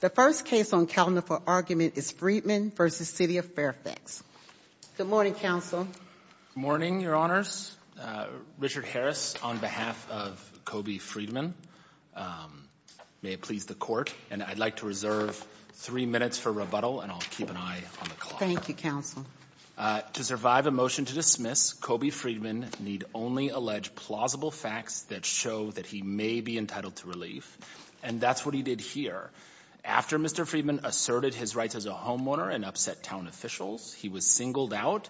The first case on calendar for argument is Friedman v. City of Fairfax. Good morning, Counsel. Good morning, Your Honors. Richard Harris on behalf of Kobe Friedman. May it please the Court, and I'd like to reserve three minutes for rebuttal, and I'll keep an eye on the clock. Thank you, Counsel. To survive a motion to dismiss, Kobe Friedman need only allege plausible facts that show that he may be entitled to relief, and that's what he did here. After Mr. Friedman asserted his rights as a homeowner and upset town officials, he was singled out,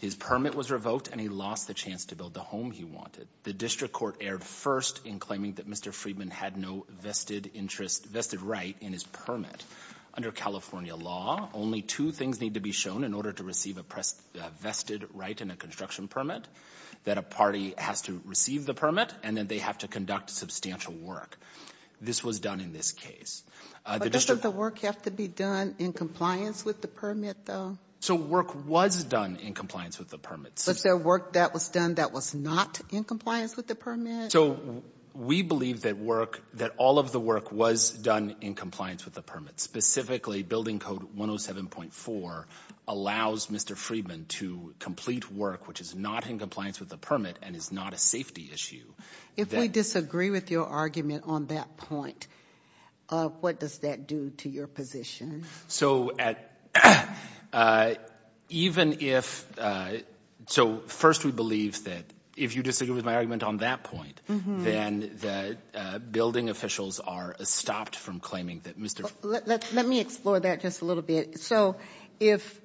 his permit was revoked, and he lost the chance to build the home he wanted. The district court erred first in claiming that Mr. Friedman had no vested interest, vested right in his permit. Under California law, only two things need to be shown in order to receive a vested right in a construction permit, that a party has to receive the permit, and that they have to conduct substantial work. This was done in this case. But doesn't the work have to be done in compliance with the permit, though? So work was done in compliance with the permit. But is there work that was done that was not in compliance with the permit? So we believe that work, that all of the work was done in compliance with the permit. Specifically, Building Code 107.4 allows Mr. Friedman to complete work which is not in compliance with the permit and is not a safety issue. If we disagree with your argument on that point, what does that do to your position? So at, even if, so first we believe that if you disagree with my argument on that point, then the building officials are stopped from claiming that Mr. Let me explore that just a little bit. So if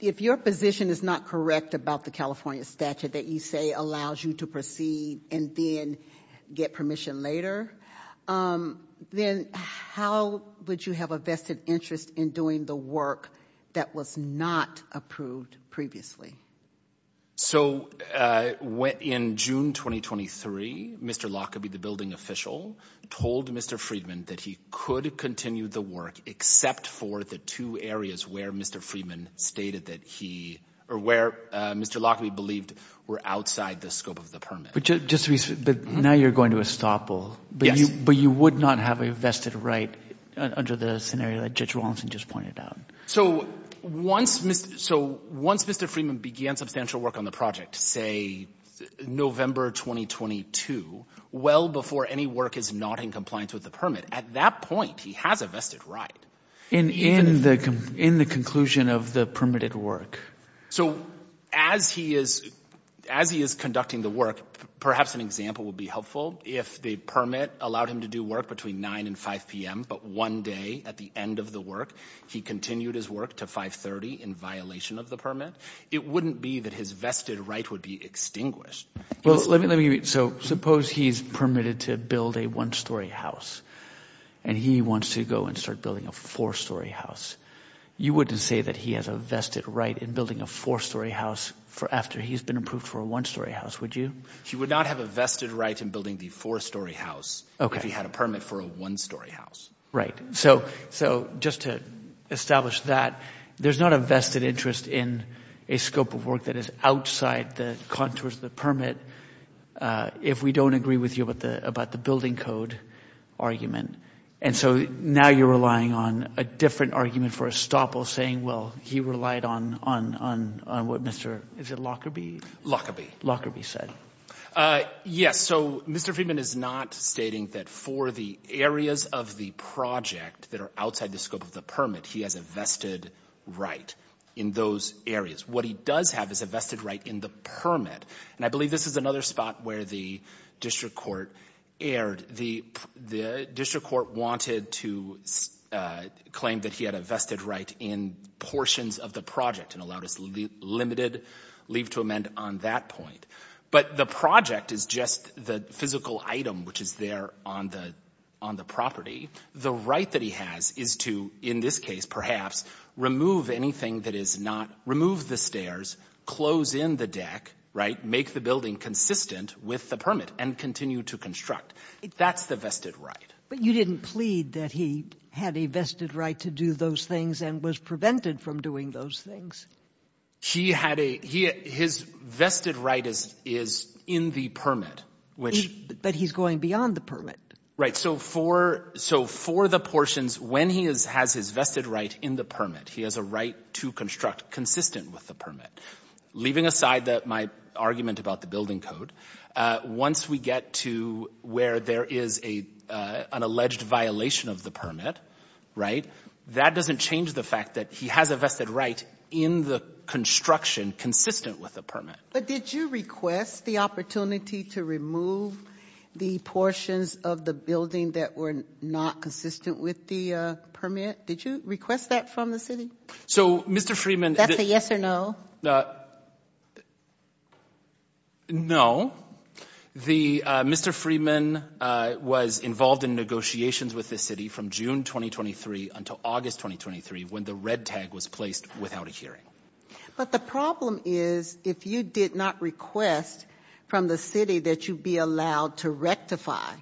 your position is not correct about the California statute that you say allows you to proceed and then get permission later, then how would you have a vested interest in doing the work that was not approved previously? So in June 2023, Mr. Lockerbie, the building official, told Mr. Friedman that he could continue the work except for the two areas where Mr. Friedman stated that he, or where Mr. Lockerbie believed were outside the scope of the permit. But now you're going to estoppel. Yes. But you would not have a vested right under the scenario that Judge Rawlinson just pointed out. So once Mr. Friedman began substantial work on the project, say November 2022, well before any work is not in compliance with the permit, at that point he has a vested right. In the conclusion of the permitted work. So as he is conducting the work, perhaps an example would be helpful. If the permit allowed him to do work between 9 and 5 p.m., but one day at the end of the work he continued his work to 530 in violation of the permit, it wouldn't be that his vested right would be extinguished. Well, let me – so suppose he's permitted to build a one-story house and he wants to go and start building a four-story house. You wouldn't say that he has a vested right in building a four-story house after he's been approved for a one-story house, would you? He would not have a vested right in building the four-story house if he had a permit for a one-story house. Right. So just to establish that. There's not a vested interest in a scope of work that is outside the contours of the permit if we don't agree with you about the building code argument. And so now you're relying on a different argument for estoppel saying, well, he relied on what Mr. – is it Lockerbie? Lockerbie. Lockerbie said. Yes. So Mr. Friedman is not stating that for the areas of the project that are outside the scope of the permit, he has a vested right in those areas. What he does have is a vested right in the permit. And I believe this is another spot where the district court erred. The district court wanted to claim that he had a vested right in portions of the project and allowed his limited leave to amend on that point. But the project is just the physical item which is there on the property. The right that he has is to, in this case perhaps, remove anything that is not – remove the stairs, close in the deck, right, make the building consistent with the permit and continue to construct. That's the vested right. But you didn't plead that he had a vested right to do those things and was prevented from doing those things. He had a – his vested right is in the permit. But he's going beyond the permit. Right. So for the portions, when he has his vested right in the permit, he has a right to construct consistent with the permit. Leaving aside my argument about the building code, once we get to where there is an alleged violation of the permit, right, that doesn't change the fact that he has a vested right in the construction consistent with the permit. But did you request the opportunity to remove the portions of the building that were not consistent with the permit? Did you request that from the city? So Mr. Freeman – That's a yes or no? No. The – Mr. Freeman was involved in negotiations with the city from June 2023 until August 2023 when the red tag was placed without a hearing. But the problem is if you did not request from the city that you be allowed to rectify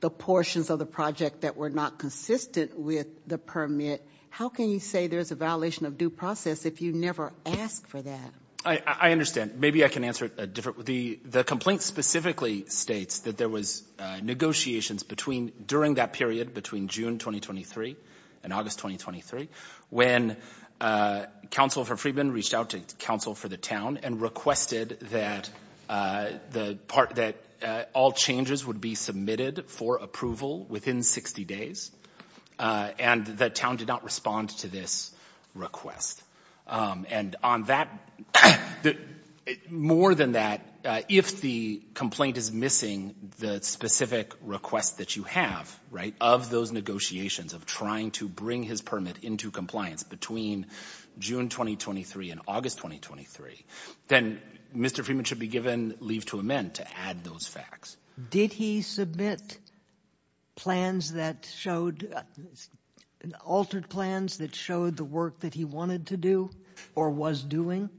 the portions of the project that were not consistent with the permit, how can you say there's a violation of due process if you never asked for that? I understand. Maybe I can answer it a different – the complaint specifically states that there was negotiations between – during that period between June 2023 and August 2023 when counsel for Freeman reached out to counsel for the town and requested that the part – that all changes would be submitted for approval within 60 days and the town did not respond to this request. And on that – more than that, if the complaint is missing the specific request that you have, right, of those negotiations of trying to bring his permit into compliance between June 2023 and August 2023, then Mr. Freeman should be given leave to amend to add those facts. Did he submit plans that showed – altered plans that showed the work that he wanted to do or was doing?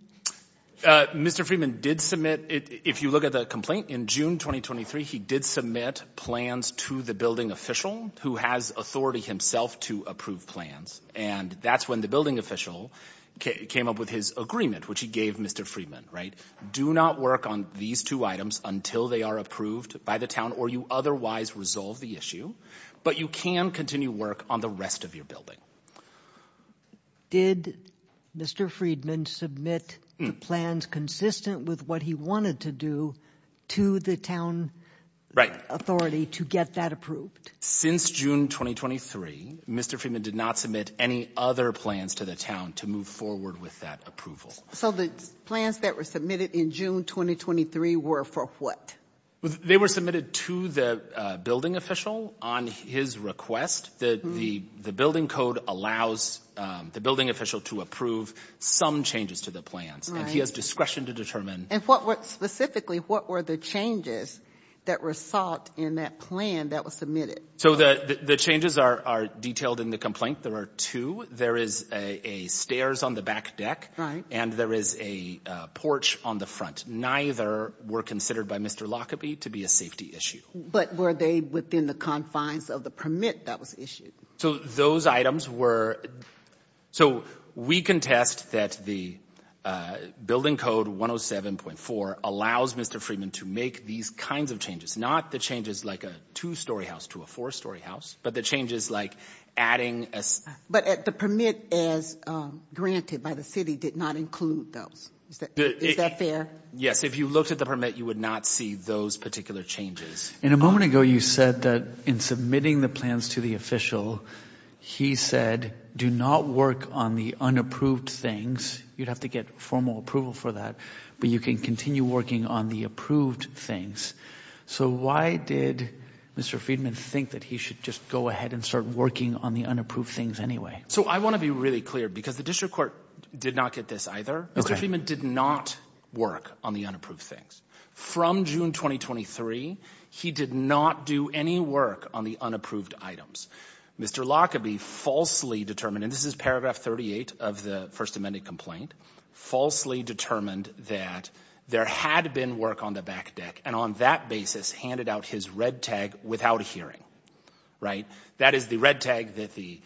Mr. Freeman did submit – if you look at the complaint, in June 2023 he did submit plans to the building official who has authority himself to approve plans. And that's when the building official came up with his agreement, which he gave Mr. Freeman, right? Do not work on these two items until they are approved by the town or you otherwise resolve the issue, but you can continue work on the rest of your building. Did Mr. Freedman submit plans consistent with what he wanted to do to the town authority to get that approved? Since June 2023, Mr. Freeman did not submit any other plans to the town to move forward with that approval. So the plans that were submitted in June 2023 were for what? They were submitted to the building official on his request. The building code allows the building official to approve some changes to the plans. And he has discretion to determine – And what were – specifically, what were the changes that result in that plan that was submitted? So the changes are detailed in the complaint. There are two. There is a stairs on the back deck. Right. And there is a porch on the front. Neither were considered by Mr. Lockaby to be a safety issue. But were they within the confines of the permit that was issued? So those items were – so we contest that the building code 107.4 allows Mr. Freeman to make these kinds of changes. Not the changes like a two-story house to a four-story house, but the changes like adding a – But the permit as granted by the city did not include those. Is that fair? Yes. If you looked at the permit, you would not see those particular changes. And a moment ago, you said that in submitting the plans to the official, he said, do not work on the unapproved things. You'd have to get formal approval for that. But you can continue working on the approved things. So why did Mr. Freeman think that he should just go ahead and start working on the unapproved things anyway? So I want to be really clear because the district court did not get this either. Mr. Freeman did not work on the unapproved things. From June 2023, he did not do any work on the unapproved items. Mr. Lockaby falsely determined – and this is paragraph 38 of the First Amendment complaint – handed out his red tag without a hearing. That is the red tag that the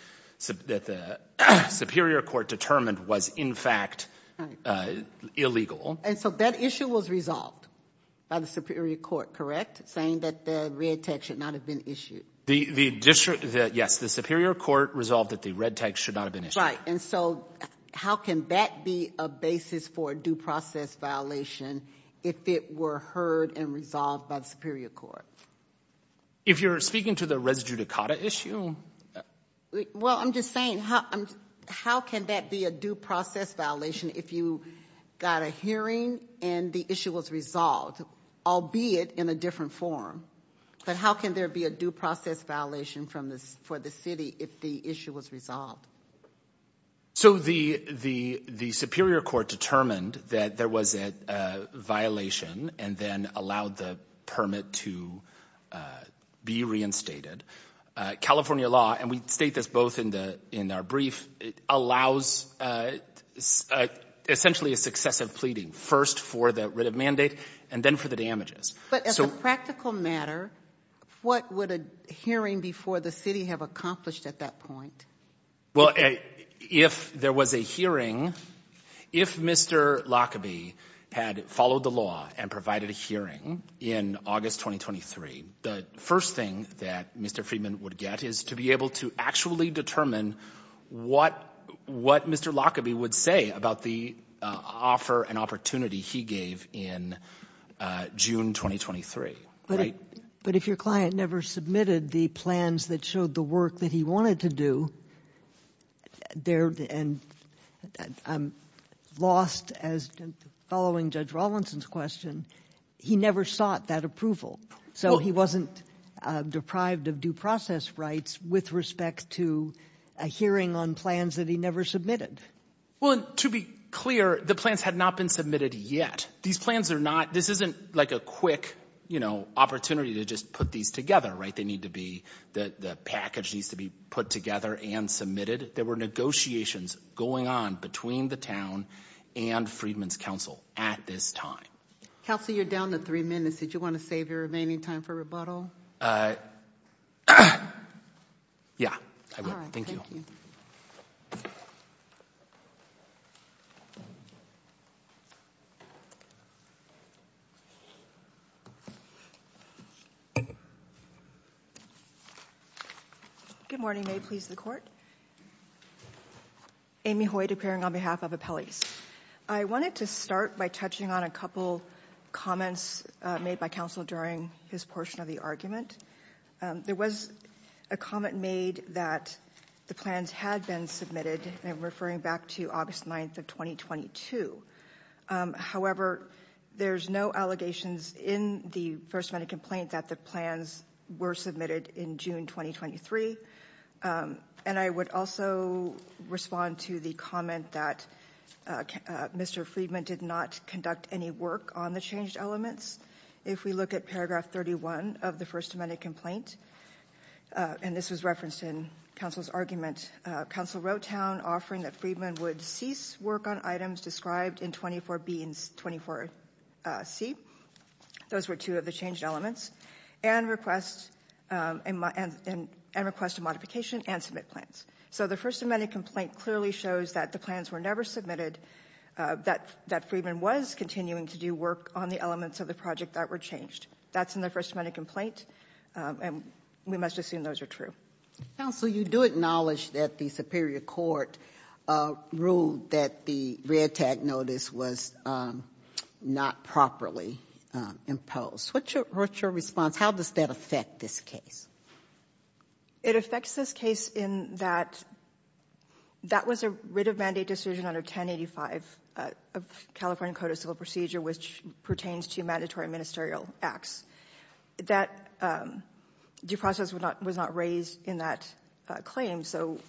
superior court determined was in fact illegal. And so that issue was resolved by the superior court, correct? Saying that the red tag should not have been issued. Yes, the superior court resolved that the red tag should not have been issued. That's right. And so how can that be a basis for a due process violation if it were heard and resolved by the superior court? If you're speaking to the res judicata issue? Well, I'm just saying, how can that be a due process violation if you got a hearing and the issue was resolved, albeit in a different form? But how can there be a due process violation for the city if the issue was resolved? So the superior court determined that there was a violation and then allowed the permit to be reinstated. California law – and we state this both in our brief – allows essentially a successive pleading. First for the writ of mandate and then for the damages. But as a practical matter, what would a hearing before the city have accomplished at that point? Well, if there was a hearing, if Mr. Lockerbie had followed the law and provided a hearing in August 2023, the first thing that Mr. Friedman would get is to be able to actually determine what Mr. Lockerbie would say about the offer and opportunity he gave in June 2023. But if your client never submitted the plans that showed the work that he wanted to do, and lost following Judge Rawlinson's question, he never sought that approval. So he wasn't deprived of due process rights with respect to a hearing on plans that he never submitted. Well, to be clear, the plans had not been submitted yet. These plans are not – this isn't like a quick, you know, opportunity to just put these together, right? They need to be – the package needs to be put together and submitted. There were negotiations going on between the town and Friedman's counsel at this time. Counsel, you're down to three minutes. Did you want to save your remaining time for rebuttal? Yeah, I would. Thank you. All right. Thank you. Good morning. May it please the Court? Amy Hoyt, appearing on behalf of appellees. I wanted to start by touching on a couple comments made by counsel during his portion of the argument. There was a comment made that the plans had been submitted, and I'm referring back to August 9th of 2022. However, there's no allegations in the First Amendment complaint that the plans were submitted in June 2023. And I would also respond to the comment that Mr. Friedman did not conduct any work on the changed elements. If we look at paragraph 31 of the First Amendment complaint, and this was referenced in counsel's argument, counsel wrote down, offering that Friedman would cease work on items described in 24B and 24C. Those were two of the changed elements, and request a modification and submit plans. So the First Amendment complaint clearly shows that the plans were never submitted, that Friedman was continuing to do work on the elements of the project that were changed. That's in the First Amendment complaint, and we must assume those are true. Counsel, you do acknowledge that the superior court ruled that the red tag notice was not properly imposed. What's your response? How does that affect this case? It affects this case in that that was a writ of mandate decision under 1085 of California Code of Civil Procedure, which pertains to mandatory ministerial acts. That due process was not raised in that claim. So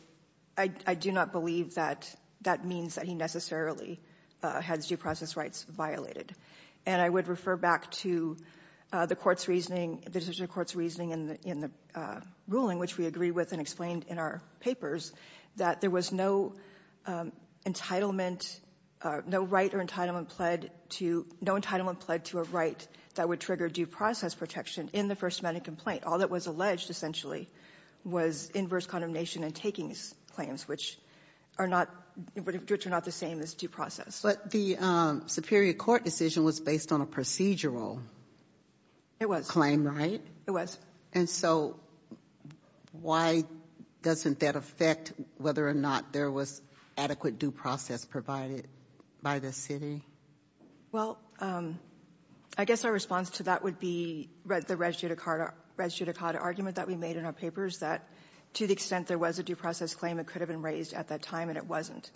I do not believe that that means that he necessarily has due process rights violated. And I would refer back to the court's reasoning, the decision court's reasoning in the ruling, which we agreed with and explained in our papers, that there was no entitlement, no right or entitlement pled to a right that would trigger due process protection in the First Amendment complaint. All that was alleged, essentially, was inverse condemnation and takings claims, which are not the same as due process. But the superior court decision was based on a procedural claim, right? It was. And so why doesn't that affect whether or not there was adequate due process provided by the city? Well, I guess our response to that would be the res judicata argument that we made in our papers, that to the extent there was a due process claim, it could have been raised at that time, and it wasn't.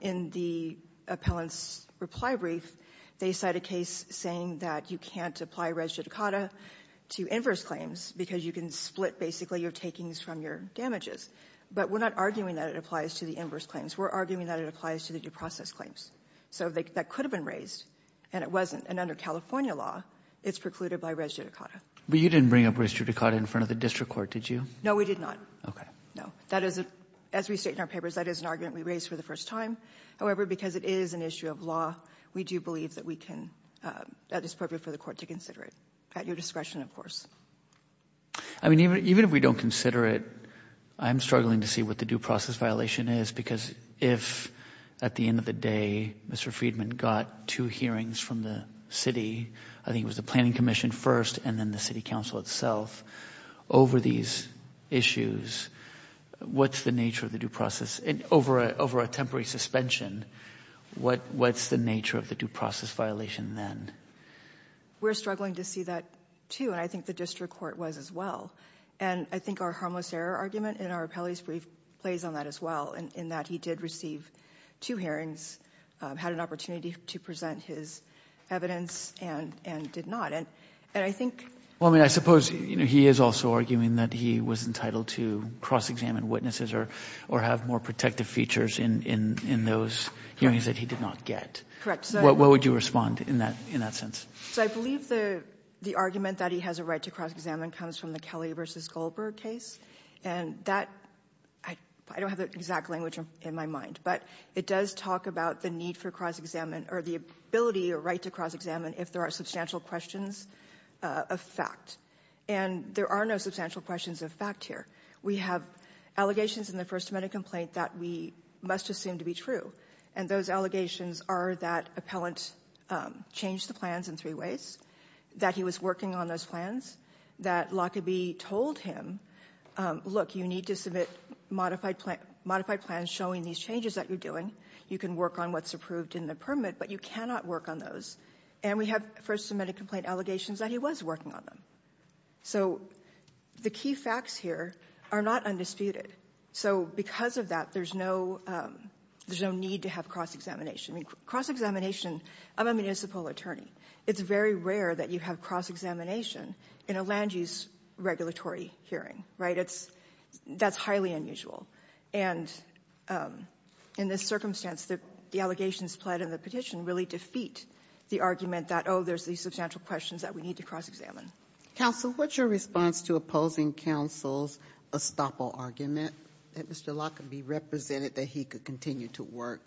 In the appellant's reply brief, they cite a case saying that you can't apply res judicata to inverse claims because you can split, basically, your takings from your damages. But we're not arguing that it applies to the inverse claims. We're arguing that it applies to the due process claims. So that could have been raised, and it wasn't. And under California law, it's precluded by res judicata. But you didn't bring up res judicata in front of the district court, did you? No, we did not. Okay. No. That is, as we state in our papers, that is an argument we raised for the first time. However, because it is an issue of law, we do believe that we can, that it's appropriate for the court to consider it, at your discretion, of course. I mean, even if we don't consider it, I'm struggling to see what the due process violation is because if, at the end of the day, Mr. Friedman got two hearings from the city, I think it was the Planning Commission first and then the city council itself, over these issues, what's the nature of the due process? And over a temporary suspension, what's the nature of the due process violation then? We're struggling to see that, too, and I think the district court was as well. And I think our harmless error argument in our appellate's brief plays on that as well, in that he did receive two hearings, had an opportunity to present his evidence, and did not. And I think — Well, I mean, I suppose, you know, he is also arguing that he was entitled to cross-examine witnesses or have more protective features in those hearings that he did not get. Correct. What would you respond in that sense? So I believe the argument that he has a right to cross-examine comes from the Kelly v. Goldberg case. And that, I don't have the exact language in my mind, but it does talk about the need for cross-examine or the ability or right to cross-examine if there are substantial questions of fact. And there are no substantial questions of fact here. We have allegations in the First Amendment complaint that we must assume to be true. And those allegations are that appellant changed the plans in three ways, that he was working on those plans, that Lockerbie told him, look, you need to submit modified plans showing these changes that you're doing. You can work on what's approved in the permit, but you cannot work on those. And we have First Amendment complaint allegations that he was working on them. So the key facts here are not undisputed. So because of that, there's no need to have cross-examination. I mean, cross-examination — I'm a municipal attorney. It's very rare that you have cross-examination in a land use regulatory hearing, right? That's highly unusual. And in this circumstance, the allegations pled in the petition really defeat the argument that, oh, there's these substantial questions that we need to cross-examine. Counsel, what's your response to opposing counsel's estoppel argument that Mr. Lockerbie represented that he could continue to work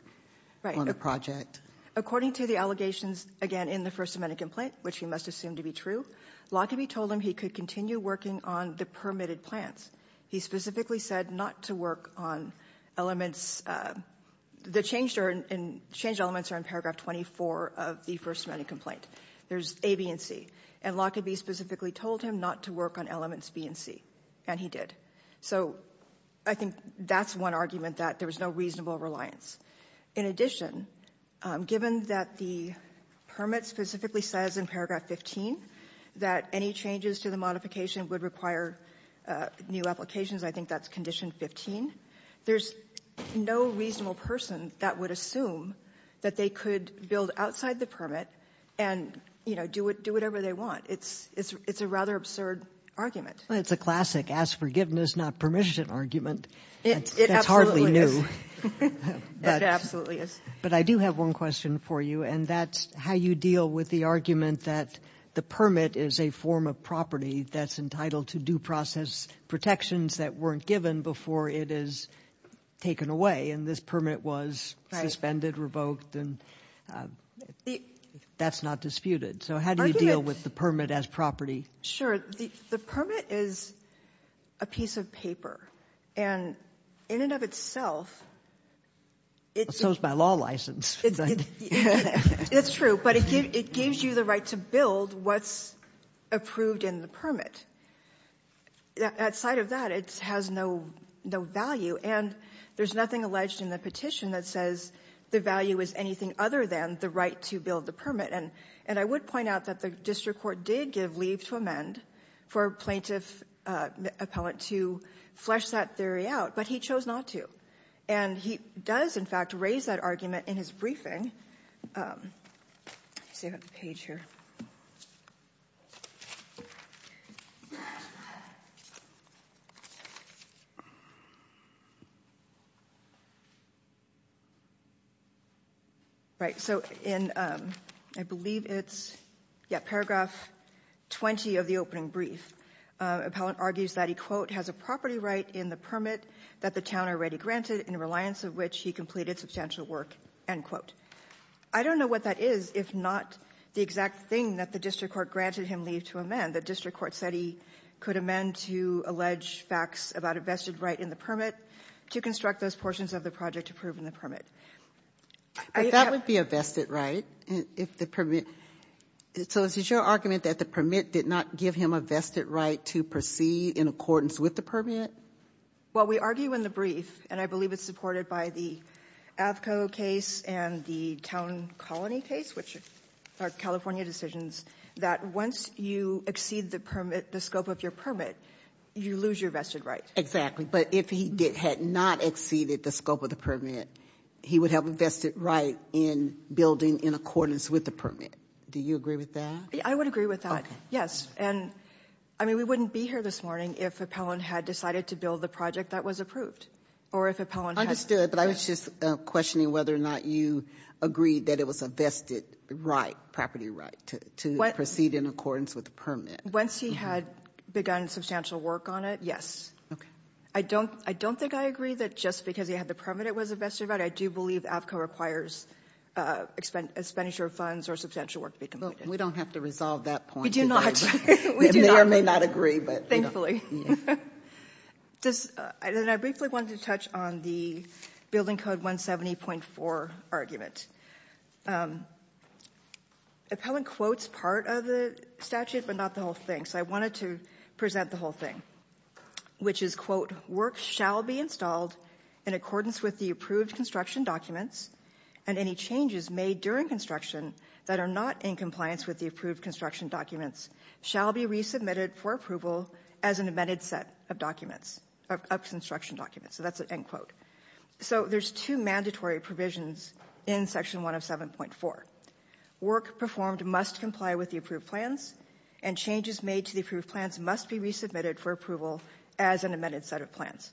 on the project? According to the allegations, again, in the First Amendment complaint, which he must assume to be true, Lockerbie told him he could continue working on the permitted plans. He specifically said not to work on elements — the changed elements are in paragraph 24 of the First Amendment complaint. There's A, B, and C. And Lockerbie specifically told him not to work on elements B and C, and he did. So I think that's one argument that there was no reasonable reliance. In addition, given that the permit specifically says in paragraph 15 that any changes to the modification would require new applications, I think that's condition 15, there's no reasonable person that would assume that they could build outside the permit and, you know, do whatever they want. It's a rather absurd argument. Well, it's a classic ask forgiveness, not permission argument. It absolutely is. That's hardly new. It absolutely is. But I do have one question for you, and that's how you deal with the argument that the property that's entitled to due process protections that weren't given before it is taken away, and this permit was suspended, revoked, and that's not disputed. So how do you deal with the permit as property? Sure. The permit is a piece of paper. And in and of itself, it's — So is my law license. It's true. But it gives you the right to build what's approved in the permit. Outside of that, it has no value. And there's nothing alleged in the petition that says the value is anything other than the right to build the permit. And I would point out that the district court did give leave to amend for plaintiff appellant to flesh that theory out, but he chose not to. And he does, in fact, raise that argument in his briefing. Let me see if I have the page here. Right. So in I believe it's paragraph 20 of the opening brief, appellant argues that he, quote, has a property right in the permit that the town already granted in reliance of which he completed substantial work, end quote. I don't know what that is, if not the exact thing that the district court granted him leave to amend. The district court said he could amend to allege facts about a vested right in the permit to construct those portions of the project approved in the permit. That would be a vested right if the permit — so is your argument that the permit did not give him a vested right to proceed in accordance with the permit? Well, we argue in the brief, and I believe it's supported by the Avco case and the town colony case, which are California decisions, that once you exceed the permit — the scope of your permit, you lose your vested right. Exactly. But if he had not exceeded the scope of the permit, he would have a vested right in building in accordance with the permit. Do you agree with that? I would agree with that, yes. And, I mean, we wouldn't be here this morning if Appellant had decided to build the project that was approved or if Appellant had — I understood, but I was just questioning whether or not you agreed that it was a vested right, property right, to proceed in accordance with the permit. Once he had begun substantial work on it, yes. Okay. I don't think I agree that just because he had the permit it was a vested right. I do believe Avco requires expenditure of funds or substantial work to be completed. Well, we don't have to resolve that point today. We do not. They may or may not agree, but — I briefly wanted to touch on the Building Code 170.4 argument. Appellant quotes part of the statute, but not the whole thing, so I wanted to present the whole thing, which is, quote, Work shall be installed in accordance with the approved construction documents and any changes made during construction that are not in compliance with the approved construction documents shall be resubmitted for approval as an amended set of documents, of construction documents. So that's an end quote. So there's two mandatory provisions in Section 107.4. Work performed must comply with the approved plans and changes made to the approved plans must be resubmitted for approval as an amended set of plans.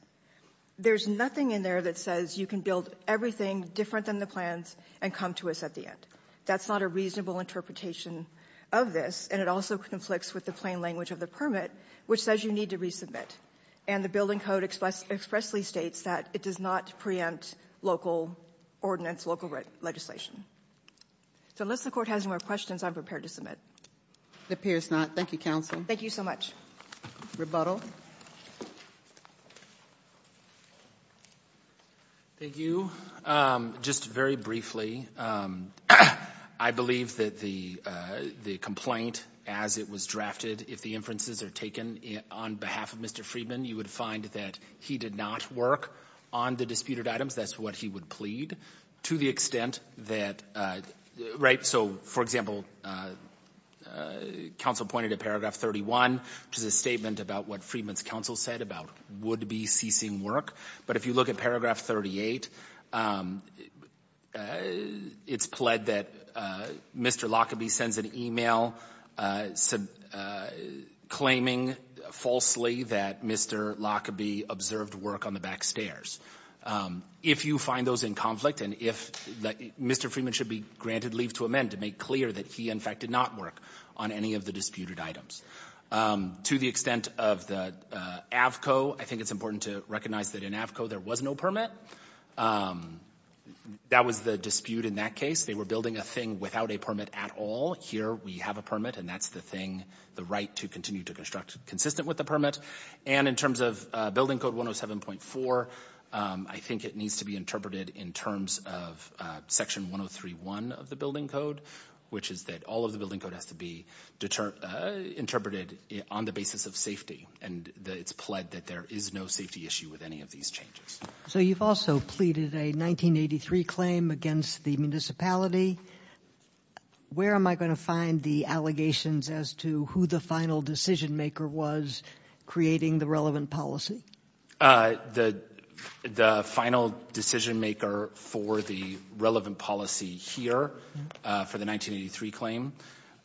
There's nothing in there that says you can build everything different than the plans and come to us at the end. That's not a reasonable interpretation of this, and it also conflicts with the plain language of the permit, which says you need to resubmit. And the Building Code expressly states that it does not preempt local ordinance, local legislation. So unless the Court has more questions, I'm prepared to submit. It appears not. Thank you, counsel. Thank you so much. Rebuttal. Thank you. Just very briefly, I believe that the complaint as it was drafted, if the inferences are taken on behalf of Mr. Friedman, you would find that he did not work on the disputed items. That's what he would plead to the extent that, right? So, for example, counsel pointed to Paragraph 31, which is a statement about what Friedman's counsel said about would be ceasing work. But if you look at Paragraph 38, it's pled that Mr. Lockerbie sends an email claiming falsely that Mr. Lockerbie observed work on the back stairs. If you find those in conflict and if Mr. Friedman should be granted leave to amend to make clear that he, in fact, did not work on any of the disputed items. To the extent of the AVCO, I think it's important to recognize that in AVCO there was no permit. That was the dispute in that case. They were building a thing without a permit at all. Here we have a permit, and that's the thing, the right to continue to construct consistent with the permit. And in terms of Building Code 107.4, I think it needs to be interpreted in terms of Section 103.1 of the Building Code, which is that all of the Building Code has to be interpreted on the basis of safety. And it's pled that there is no safety issue with any of these changes. So you've also pleaded a 1983 claim against the municipality. Where am I going to find the allegations as to who the final decision maker was creating the relevant policy? The final decision maker for the relevant policy here for the 1983 claim,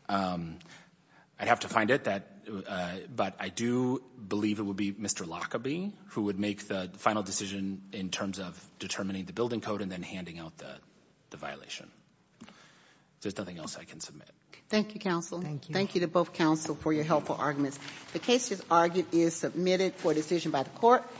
I'd have to find it, but I do believe it would be Mr. Lockerbie who would make the final decision in terms of determining the Building Code and then handing out the violation. There's nothing else I can submit. Thank you, counsel. Thank you. Thank you to both counsel for your helpful arguments. The case is submitted for decision by the court.